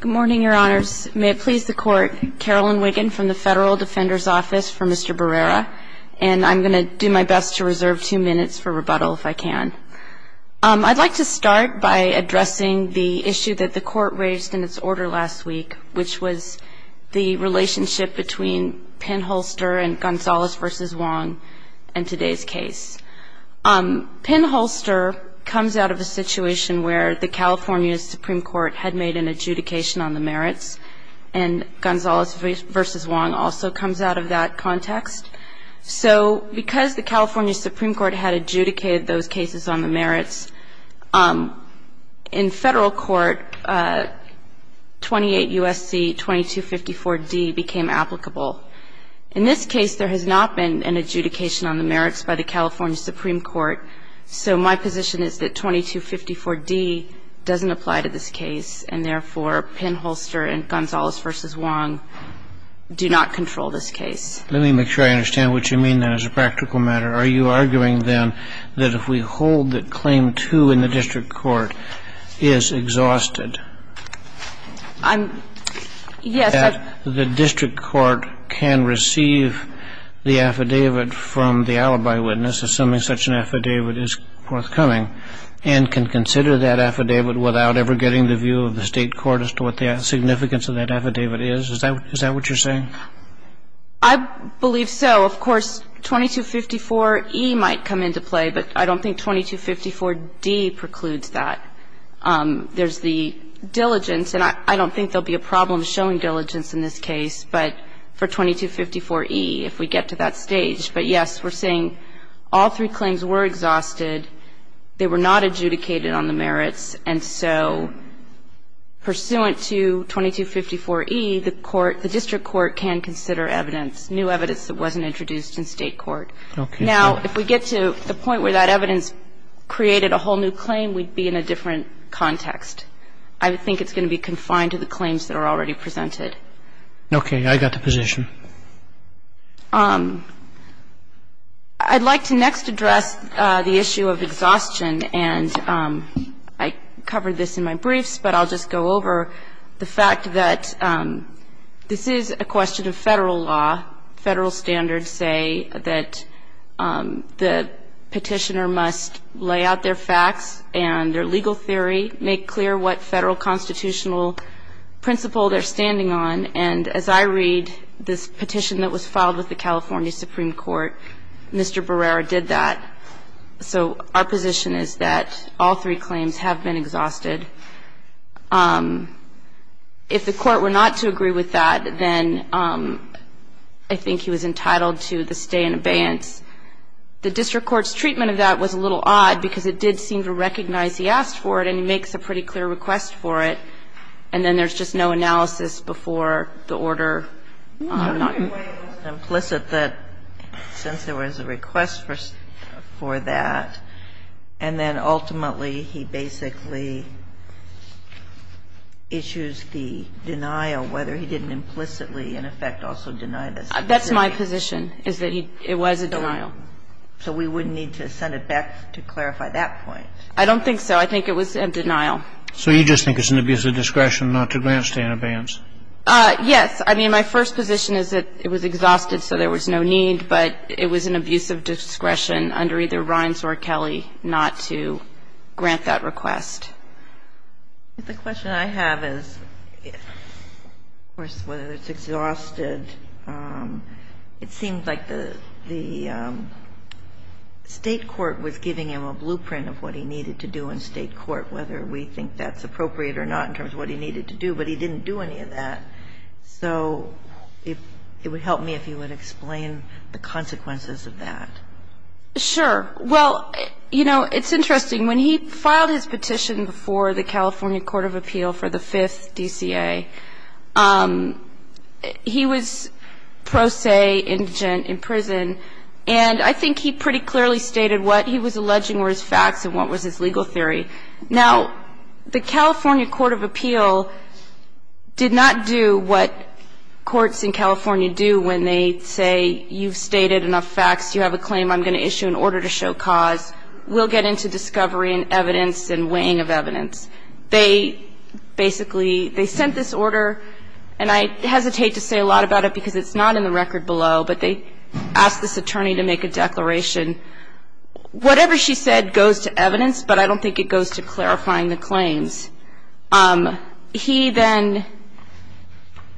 Good morning, Your Honors. May it please the Court, Carolyn Wiggin from the Federal Defender's Office for Mr. Barrera, and I'm going to do my best to reserve two minutes for rebuttal if I can. I'd like to start by addressing the issue that the Court raised in its order last week, which was the relationship between Penn Holster and Gonzales v. Wong in today's case. Penn Holster comes out of a situation where the California Supreme Court had made an adjudication on the merits, and Gonzales v. Wong also comes out of that context. So because the California Supreme Court had adjudicated those cases on the merits, in federal court, 28 U.S.C. 2254d became applicable. In this case, there has not been an adjudication on the merits by the California Supreme Court, so my position is that 2254d doesn't apply to this case, and therefore, Penn Holster and Gonzales v. Wong do not control this case. Let me make sure I understand what you mean, then, as a practical matter. Are you arguing, then, that if we hold that Claim 2 in the district court is exhausted, that the district court can receive the affidavit from the alibi witness, assuming such an affidavit is forthcoming, and can consider that affidavit without ever getting the view of the State court as to what the significance of that affidavit is? Is that what you're saying? I believe so. Of course, 2254e might come into play, but I don't think 2254d precludes that. There's the diligence, and I don't think there will be a problem showing diligence in this case, but for 2254e, if we get to that stage. But, yes, we're saying all three claims were exhausted. They were not adjudicated on the merits. And so pursuant to 2254e, the court, the district court can consider evidence, new evidence that wasn't introduced in State court. Okay. Now, if we get to the point where that evidence created a whole new claim, we'd be in a different context. I think it's going to be confined to the claims that are already presented. Okay. I got the position. I'd like to next address the issue of exhaustion, and I covered this in my briefs, but I'll just go over the fact that this is a question of Federal law. Federal standards say that the Petitioner must lay out their facts and their legal theory, make clear what Federal constitutional principle they're standing on. And as I read this petition that was filed with the California Supreme Court, Mr. Barrera did that. So our position is that all three claims have been exhausted. If the court were not to agree with that, then I think he was entitled to the stay in abeyance. The district court's treatment of that was a little odd because it did seem to recognize he asked for it and he makes a pretty clear request for it. And then there's just no analysis before the order. Since there was a request for that, and then ultimately he basically issues the denial, whether he didn't implicitly in effect also deny this. That's my position, is that it was a denial. So we would need to send it back to clarify that point. I don't think so. I think it was a denial. So you just think it's an abuse of discretion not to grant stay in abeyance? Yes. I mean, my first position is that it was exhausted, so there was no need. But it was an abuse of discretion under either Rhines or Kelly not to grant that request. The question I have is, of course, whether it's exhausted. It seems like the State court was giving him a blueprint of what he needed to do in State I don't know whether you think that's appropriate or not in terms of what he needed to do, but he didn't do any of that. So it would help me if you would explain the consequences of that. Sure. Well, you know, it's interesting. When he filed his petition before the California Court of Appeal for the Fifth DCA, he was pro se indigent in prison. And I think he pretty clearly stated what he was alleging were his facts and what was his legal theory. Now, the California Court of Appeal did not do what courts in California do when they say you've stated enough facts, you have a claim I'm going to issue an order to show cause. We'll get into discovery and evidence and weighing of evidence. They basically, they sent this order, and I hesitate to say a lot about it because it's not in the record below, but they asked this attorney to make a declaration. Whatever she said goes to evidence, but I don't think it goes to clarifying the claims. He then,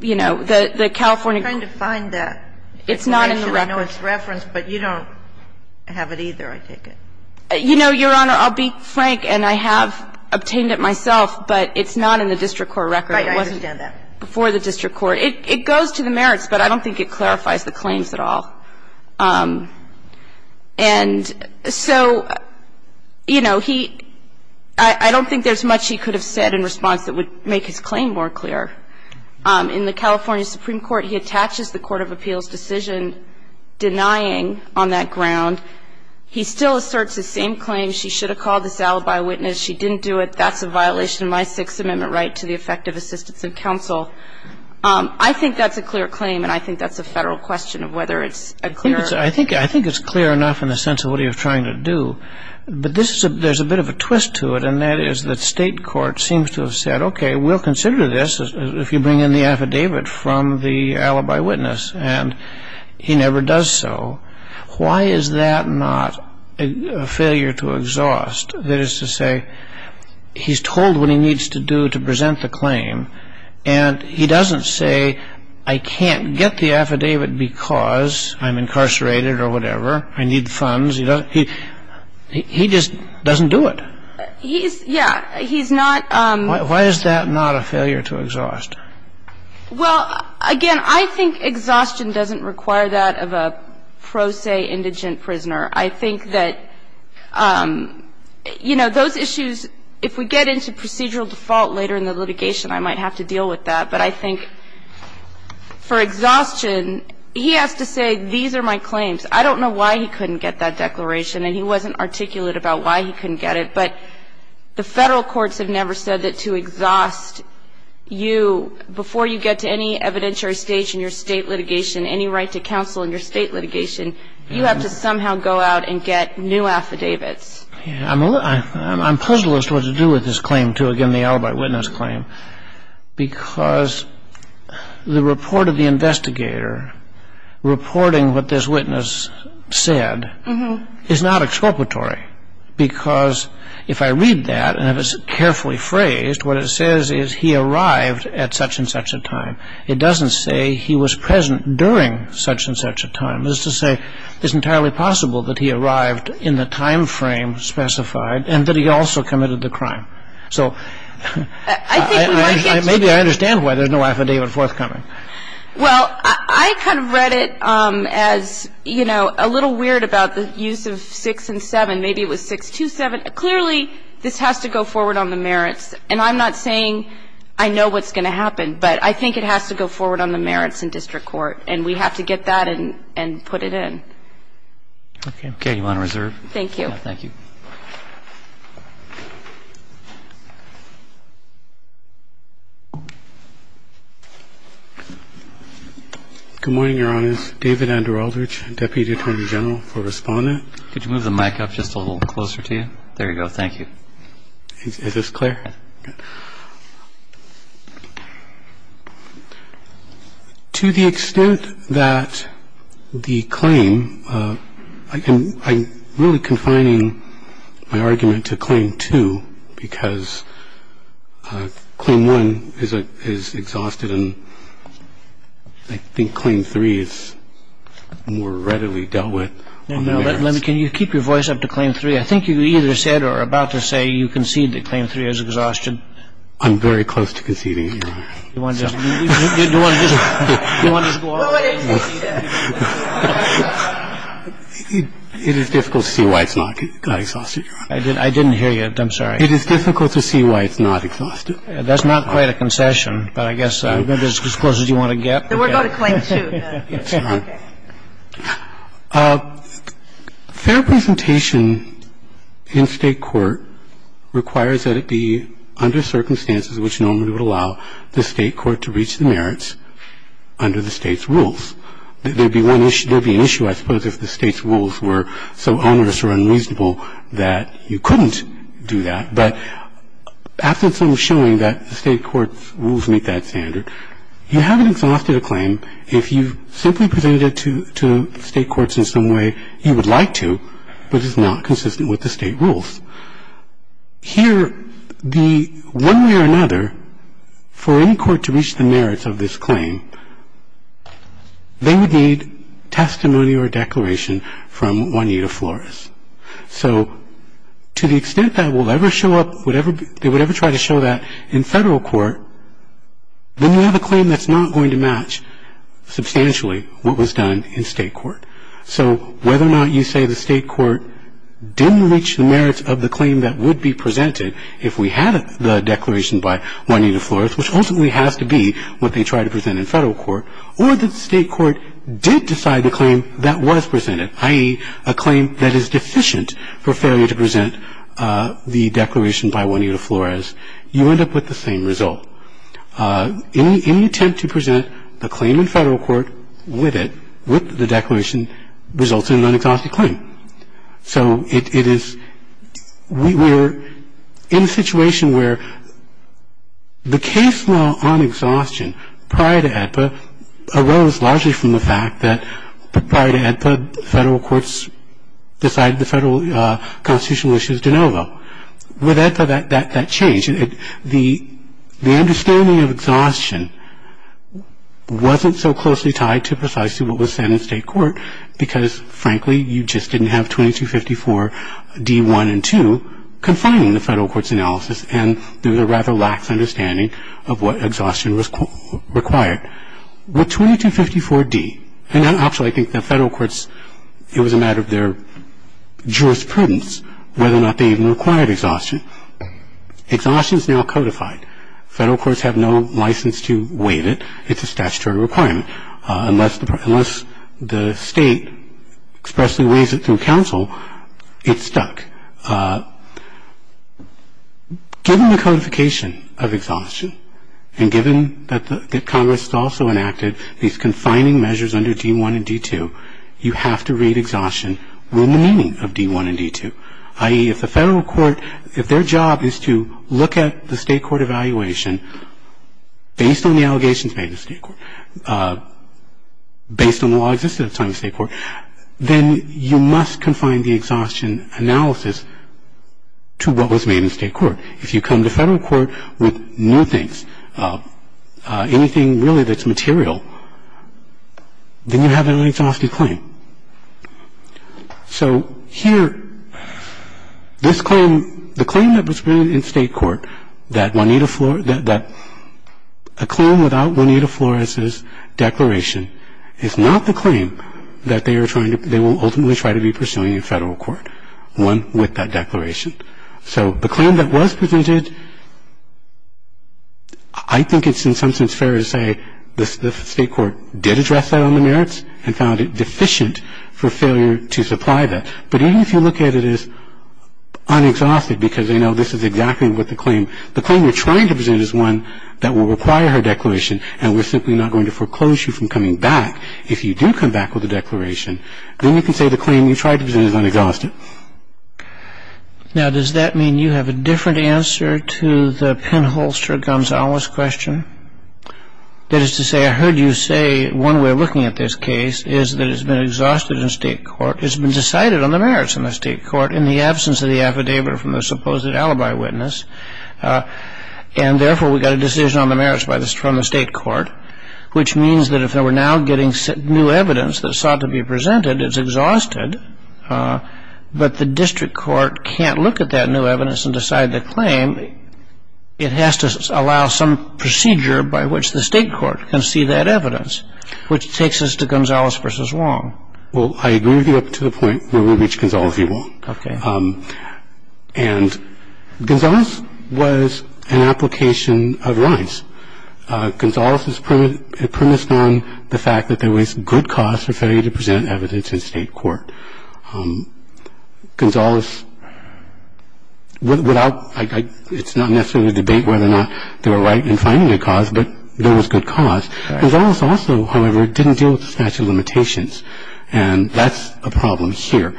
you know, the California Court of Appeal. I'm trying to find that. It's not in the record. I know it's referenced, but you don't have it either, I take it. You know, Your Honor, I'll be frank, and I have obtained it myself, but it's not in the district court record. Right. I understand that. Before the district court. It goes to the merits, but I don't think it clarifies the claims at all. And so, you know, he, I don't think there's much he could have said in response that would make his claim more clear. In the California Supreme Court, he attaches the court of appeals decision denying on that ground. He still asserts the same claims. She should have called this alibi witness. She didn't do it. I think that's a clear claim, and I think that's a Federal question of whether it's a clear I think it's clear enough in the sense of what he was trying to do. But there's a bit of a twist to it, and that is that State court seems to have said, okay, we'll consider this if you bring in the affidavit from the alibi witness, and he never does so. Why is that not a failure to exhaust? That is to say, he's told what he needs to do to present the claim, and he doesn't say, I can't get the affidavit because I'm incarcerated or whatever. I need funds. He just doesn't do it. He's, yeah, he's not. Why is that not a failure to exhaust? Well, again, I think exhaustion doesn't require that of a pro se indigent prisoner. I think that, you know, those issues, if we get into procedural default later in the litigation, I might have to deal with that. But I think for exhaustion, he has to say, these are my claims. I don't know why he couldn't get that declaration, and he wasn't articulate about why he couldn't get it, but the Federal courts have never said that to exhaust you before you get to any evidentiary stage in your State litigation, any right to counsel in your State litigation, you have to somehow go out and get new affidavits. Yeah. I'm puzzled as to what to do with this claim, too, again, the alibi witness claim, because the report of the investigator reporting what this witness said is not exculpatory, because if I read that and if it's carefully phrased, what it says is he arrived at such and such a time. It doesn't say he was present during such and such a time. It's to say it's entirely possible that he arrived in the time frame specified and that he also committed the crime. So maybe I understand why there's no affidavit forthcoming. Well, I kind of read it as, you know, a little weird about the use of 6 and 7. Maybe it was 627. Clearly, this has to go forward on the merits, and I'm not saying I know what's going to happen, but I think it has to go forward on the merits in district court, and we have to get that and put it in. Okay. You want to reserve? Thank you. Thank you. Good morning, Your Honors. David Andrew Aldrich, Deputy Attorney General for Respondent. Could you move the mic up just a little closer to you? There you go. Thank you. Is this clear? Yes. To the extent that the claim, I'm really confining my argument to Claim 2 because Claim 1 is exhausted and I think Claim 3 is more readily dealt with on the merits. Can you keep your voice up to Claim 3? I think you either said or are about to say you concede that Claim 3 is exhausted. It is difficult to see why it's not exhausted. I didn't hear you. I'm sorry. It is difficult to see why it's not exhausted. That's not quite a concession, but I guess as close as you want to get. Then we'll go to Claim 2. Fair presentation in State court requires that it be under circumstances which normally would allow the State court to reach the merits under the State's rules. There would be an issue, I suppose, if the State's rules were so onerous or unreasonable that you couldn't do that. But after some showing that the State court's rules meet that standard, you haven't exhausted a claim if you simply presented it to State courts in some way you would like to, but it's not consistent with the State rules. Here, one way or another, for any court to reach the merits of this claim, they would need testimony or declaration from Juanita Flores. So to the extent that they would ever try to show that in Federal court, then you have a claim that's not going to match substantially what was done in State court. So whether or not you say the State court didn't reach the merits of the claim that would be presented if we had the declaration by Juanita Flores, which ultimately has to be what they tried to present in Federal court, or that the State court did decide the claim that was presented, i.e., a claim that is deficient for failure to present the declaration by Juanita Flores, you end up with the same result. In the attempt to present the claim in Federal court with it, with the declaration, results in an unexhausted claim. So it is we're in a situation where the case law on exhaustion prior to AEDPA arose largely from the fact that prior to AEDPA, Federal courts decided the Federal constitutional issues de novo. With AEDPA, that changed. The understanding of exhaustion wasn't so closely tied to precisely what was said in State court because, frankly, you just didn't have 2254d-1 and 2 confining the Federal court's analysis and there was a rather lax understanding of what exhaustion was required. With 2254d, and actually I think the Federal courts, it was a matter of their jurisprudence whether or not they even required exhaustion. Exhaustion is now codified. Federal courts have no license to waive it. It's a statutory requirement. Unless the State expressly waives it through counsel, it's stuck. Given the codification of exhaustion and given that Congress has also enacted these confining measures under d-1 and d-2, you have to read exhaustion with the meaning of d-1 and d-2, i.e., if the Federal court, if their job is to look at the State court evaluation based on the allegations made in State court, based on the law existed at the time of State court, then you must confine the exhaustion analysis to what was made in State court. If you come to Federal court with new things, anything really that's material, then you have an unexhausted claim. So here, this claim, the claim that was made in State court that Juanita Flores, that a claim without Juanita Flores's declaration is not the claim that they are trying to, they will ultimately try to be pursuing in Federal court, one with that declaration. So the claim that was presented, I think it's in some sense fair to say the State court did address that on the merits and found it deficient for failure to supply that. But even if you look at it as unexhausted because they know this is exactly what the claim, the claim you're trying to present is one that will require her declaration and we're simply not going to foreclose you from coming back if you do come back with a declaration, then you can say the claim you tried to present is unexhausted. Now, does that mean you have a different answer to the pinholster Gonzales question? That is to say, I heard you say one way of looking at this case is that it's been exhausted in State court, it's been decided on the merits in the State court in the absence of the affidavit from the supposed alibi witness and therefore we got a decision on the merits from the State court, which means that if they were now getting new evidence that sought to be presented, it's exhausted, but the district court can't look at that new evidence and decide the claim. It has to allow some procedure by which the State court can see that evidence, which takes us to Gonzales v. Wong. Well, I agree with you up to the point where we reach Gonzales v. Wong. Okay. And Gonzales was an application of rights. Gonzales is premised on the fact that there was good cause for failure to present evidence in State court. Gonzales, without – it's not necessarily a debate whether or not they were right in finding a cause, but there was good cause. Gonzales also, however, didn't deal with the statute of limitations, and that's a problem here.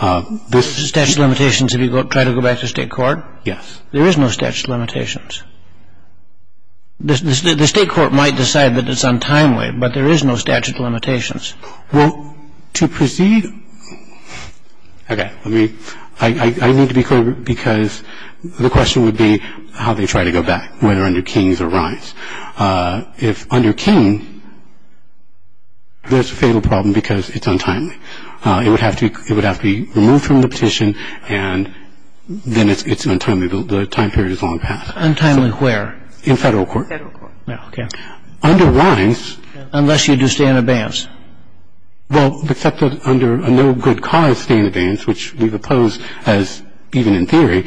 The statute of limitations, if you try to go back to State court? Yes. There is no statute of limitations. The State court might decide that it's untimely, but there is no statute of limitations. Well, to proceed – okay. I mean, I need to be clear because the question would be how they try to go back, whether under King's or Rines. If under King, there's a fatal problem because it's untimely. It would have to be removed from the petition, and then it's untimely. The time period is long past. Untimely where? In Federal court. Federal court. Okay. Under Rines. Unless you do stay in abeyance. Well, except under a no good cause stay in abeyance, which we've opposed as even in theory,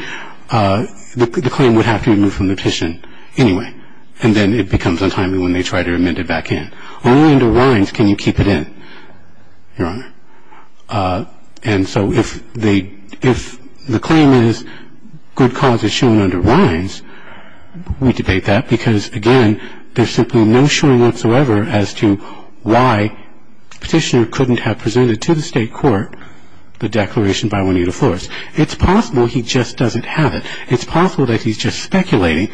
the claim would have to be removed from the petition anyway. And then it becomes untimely when they try to amend it back in. Only under Rines can you keep it in, Your Honor. And so if the claim is good cause is shown under Rines, we debate that because, again, there's simply no showing whatsoever as to why the petitioner couldn't have presented to the State court the declaration by Juanita Flores. It's possible he just doesn't have it. It's possible that he's just speculating.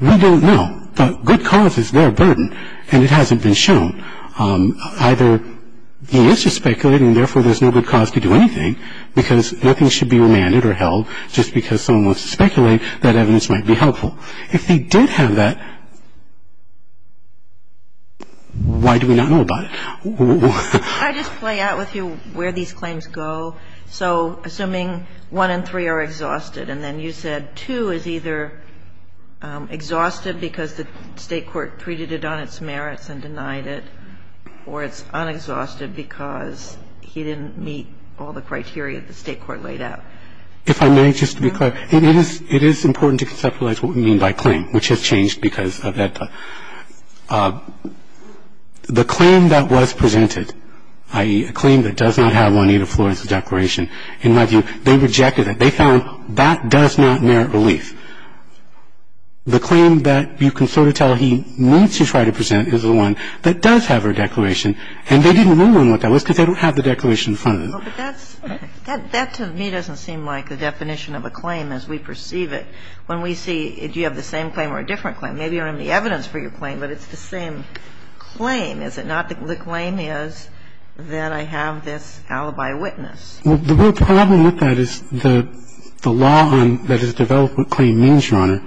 We don't know, but good cause is their burden, and it hasn't been shown. Either he is just speculating and, therefore, there's no good cause to do anything because nothing should be remanded or held just because someone wants to speculate. That evidence might be helpful. If he did have that, why do we not know about it? Can I just play out with you where these claims go? So assuming one and three are exhausted, and then you said two is either exhausted because the State court treated it on its merits and denied it, or it's unexhausted because he didn't meet all the criteria the State court laid out. If I may, just to be clear, it is important to conceptualize what we mean by claim, which has changed because of that. The claim that was presented, i.e., a claim that does not have Juanita Flores' declaration, in my view, they rejected it. They found that does not merit relief. The claim that you can sort of tell he means to try to present is the one that does have her declaration, and they didn't rule on what that was because they don't have the declaration in front of them. That, to me, doesn't seem like the definition of a claim as we perceive it. When we see, do you have the same claim or a different claim? Maybe you don't have any evidence for your claim, but it's the same claim, is it not? The claim is that I have this alibi witness. The real problem with that is the law that has developed what claim means, Your Honor,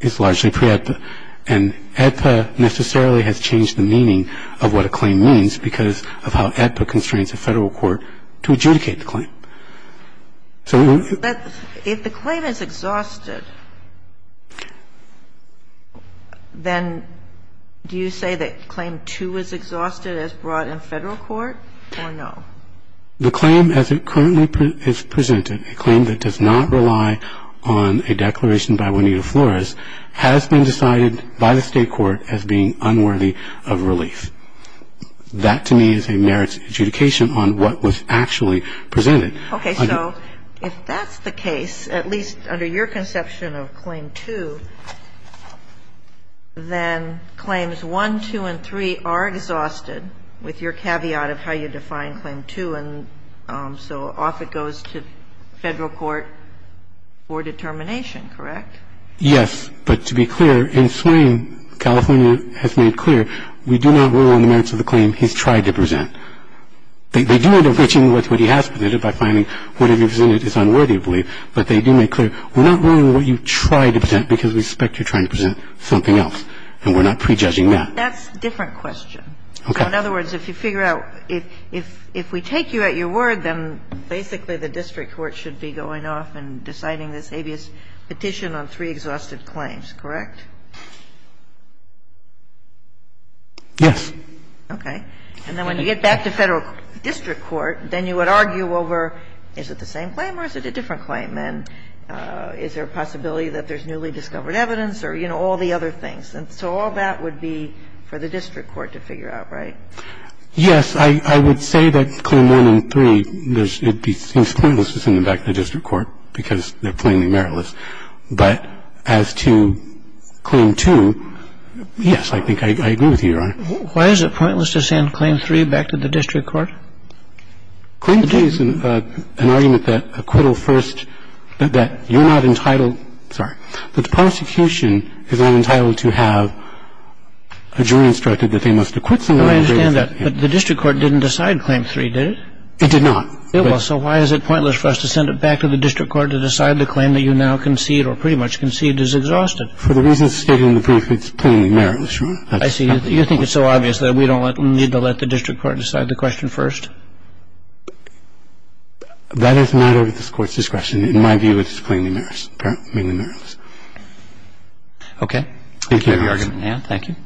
is largely pre-AEDPA, and AEDPA necessarily has changed the meaning of what a claim means because of how AEDPA constrains the Federal court to adjudicate the claim. If the claim is exhausted, then do you say that claim 2 is exhausted as brought in Federal court or no? The claim as it currently is presented, a claim that does not rely on a declaration by Juanita Flores, has been decided by the State court as being unworthy of relief. That, to me, is a merits adjudication on what was actually presented. Okay. So if that's the case, at least under your conception of claim 2, then claims 1, 2, and 3 are exhausted with your caveat of how you define claim 2, and so off it goes to Federal court for determination, correct? Yes. But to be clear, in swing, California has made clear we do not rule on the merits of the claim he's tried to present. They do end up reaching what he has presented by finding whatever he presented is unworthy of relief, but they do make clear we're not ruling on what you tried to present because we suspect you're trying to present something else, and we're not prejudging that. That's a different question. Okay. So in other words, if you figure out – if we take you at your word, then basically the district court should be going off and deciding this habeas petition on three exhausted claims, correct? Yes. Okay. And then when you get back to Federal district court, then you would argue over is it the same claim or is it a different claim, and is there a possibility that there's some newly discovered evidence or, you know, all the other things. And so all that would be for the district court to figure out, right? Yes. I – I would say that claim one and three, it seems pointless to send them back to the district court because they're plainly meritless. But as to claim two, yes, I think I agree with you, Your Honor. Why is it pointless to send claim three back to the district court? Claim two is an argument that acquittal first – that you're not entitled – sorry. The prosecution is not entitled to have a jury instructed that they must acquit someone. No, I understand that. But the district court didn't decide claim three, did it? It did not. It was. So why is it pointless for us to send it back to the district court to decide the claim that you now concede or pretty much conceded is exhausted? For the reasons stated in the brief, it's plainly meritless, Your Honor. I see. You think it's so obvious that we don't need to let the district court decide the question first? That is not at this Court's discretion. In my view, it's plainly meritless. Okay. Thank you, Your Honor. Thank you.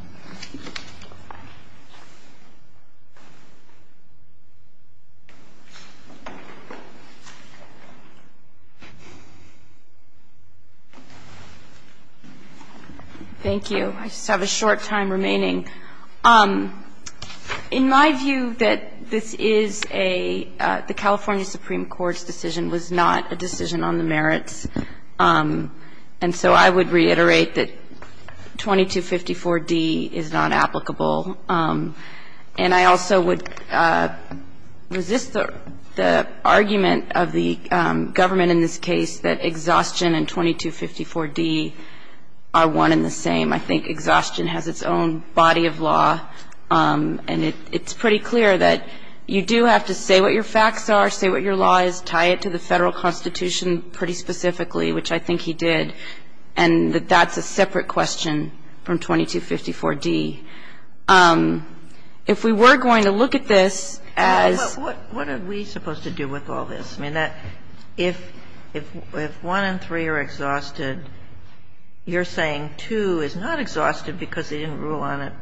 Thank you. I just have a short time remaining. In my view, that this is a – the California Supreme Court's decision was not a decision on the merits, and so I would reiterate that 2254d is not applicable. And I also would resist the argument of the government in this case that exhaustion and 2254d are one and the same. I think exhaustion has its own body of law, and it's pretty clear that you do have to say what your facts are, say what your law is, tie it to the Federal Constitution pretty specifically, which I think he did, and that that's a separate question from 2254d. If we were going to look at this as – But what are we supposed to do with all this? If one and three are exhausted, you're saying two is not exhausted because they didn't rule on it.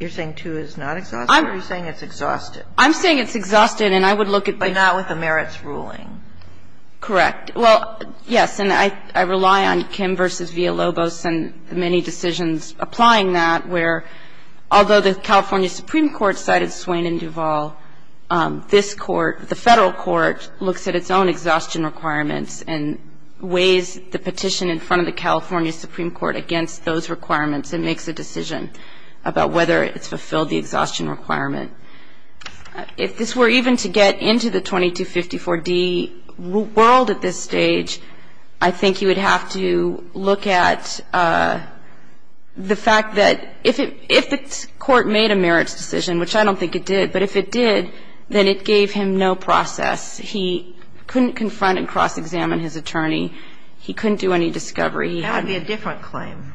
You're saying two is not exhausted, or are you saying it's exhausted? I'm saying it's exhausted, and I would look at the merits. But not with the merits ruling. Correct. Well, yes, and I rely on Kim v. Villalobos and the many decisions applying that, where although the California Supreme Court cited Swain and Duvall, this Court, the Federal Court, looks at its own exhaustion requirements and weighs the petition in front of the California Supreme Court against those requirements and makes a decision about whether it's fulfilled the exhaustion requirement. If this were even to get into the 2254d world at this stage, I think you would have to look at the fact that if the Court made a merits decision, which I don't think it did, but if it did, then it gave him no process. He couldn't confront and cross-examine his attorney. He couldn't do any discovery. That would be a different claim.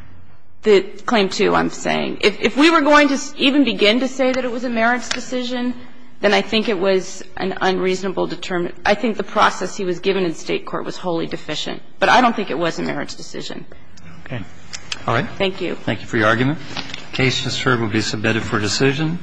Claim two, I'm saying. If we were going to even begin to say that it was a merits decision, then I think it was an unreasonable determination. I think the process he was given in State court was wholly deficient. But I don't think it was a merits decision. Okay. All right. Thank you. Thank you for your argument. The case, Mr. Herb, will be submitted for decision.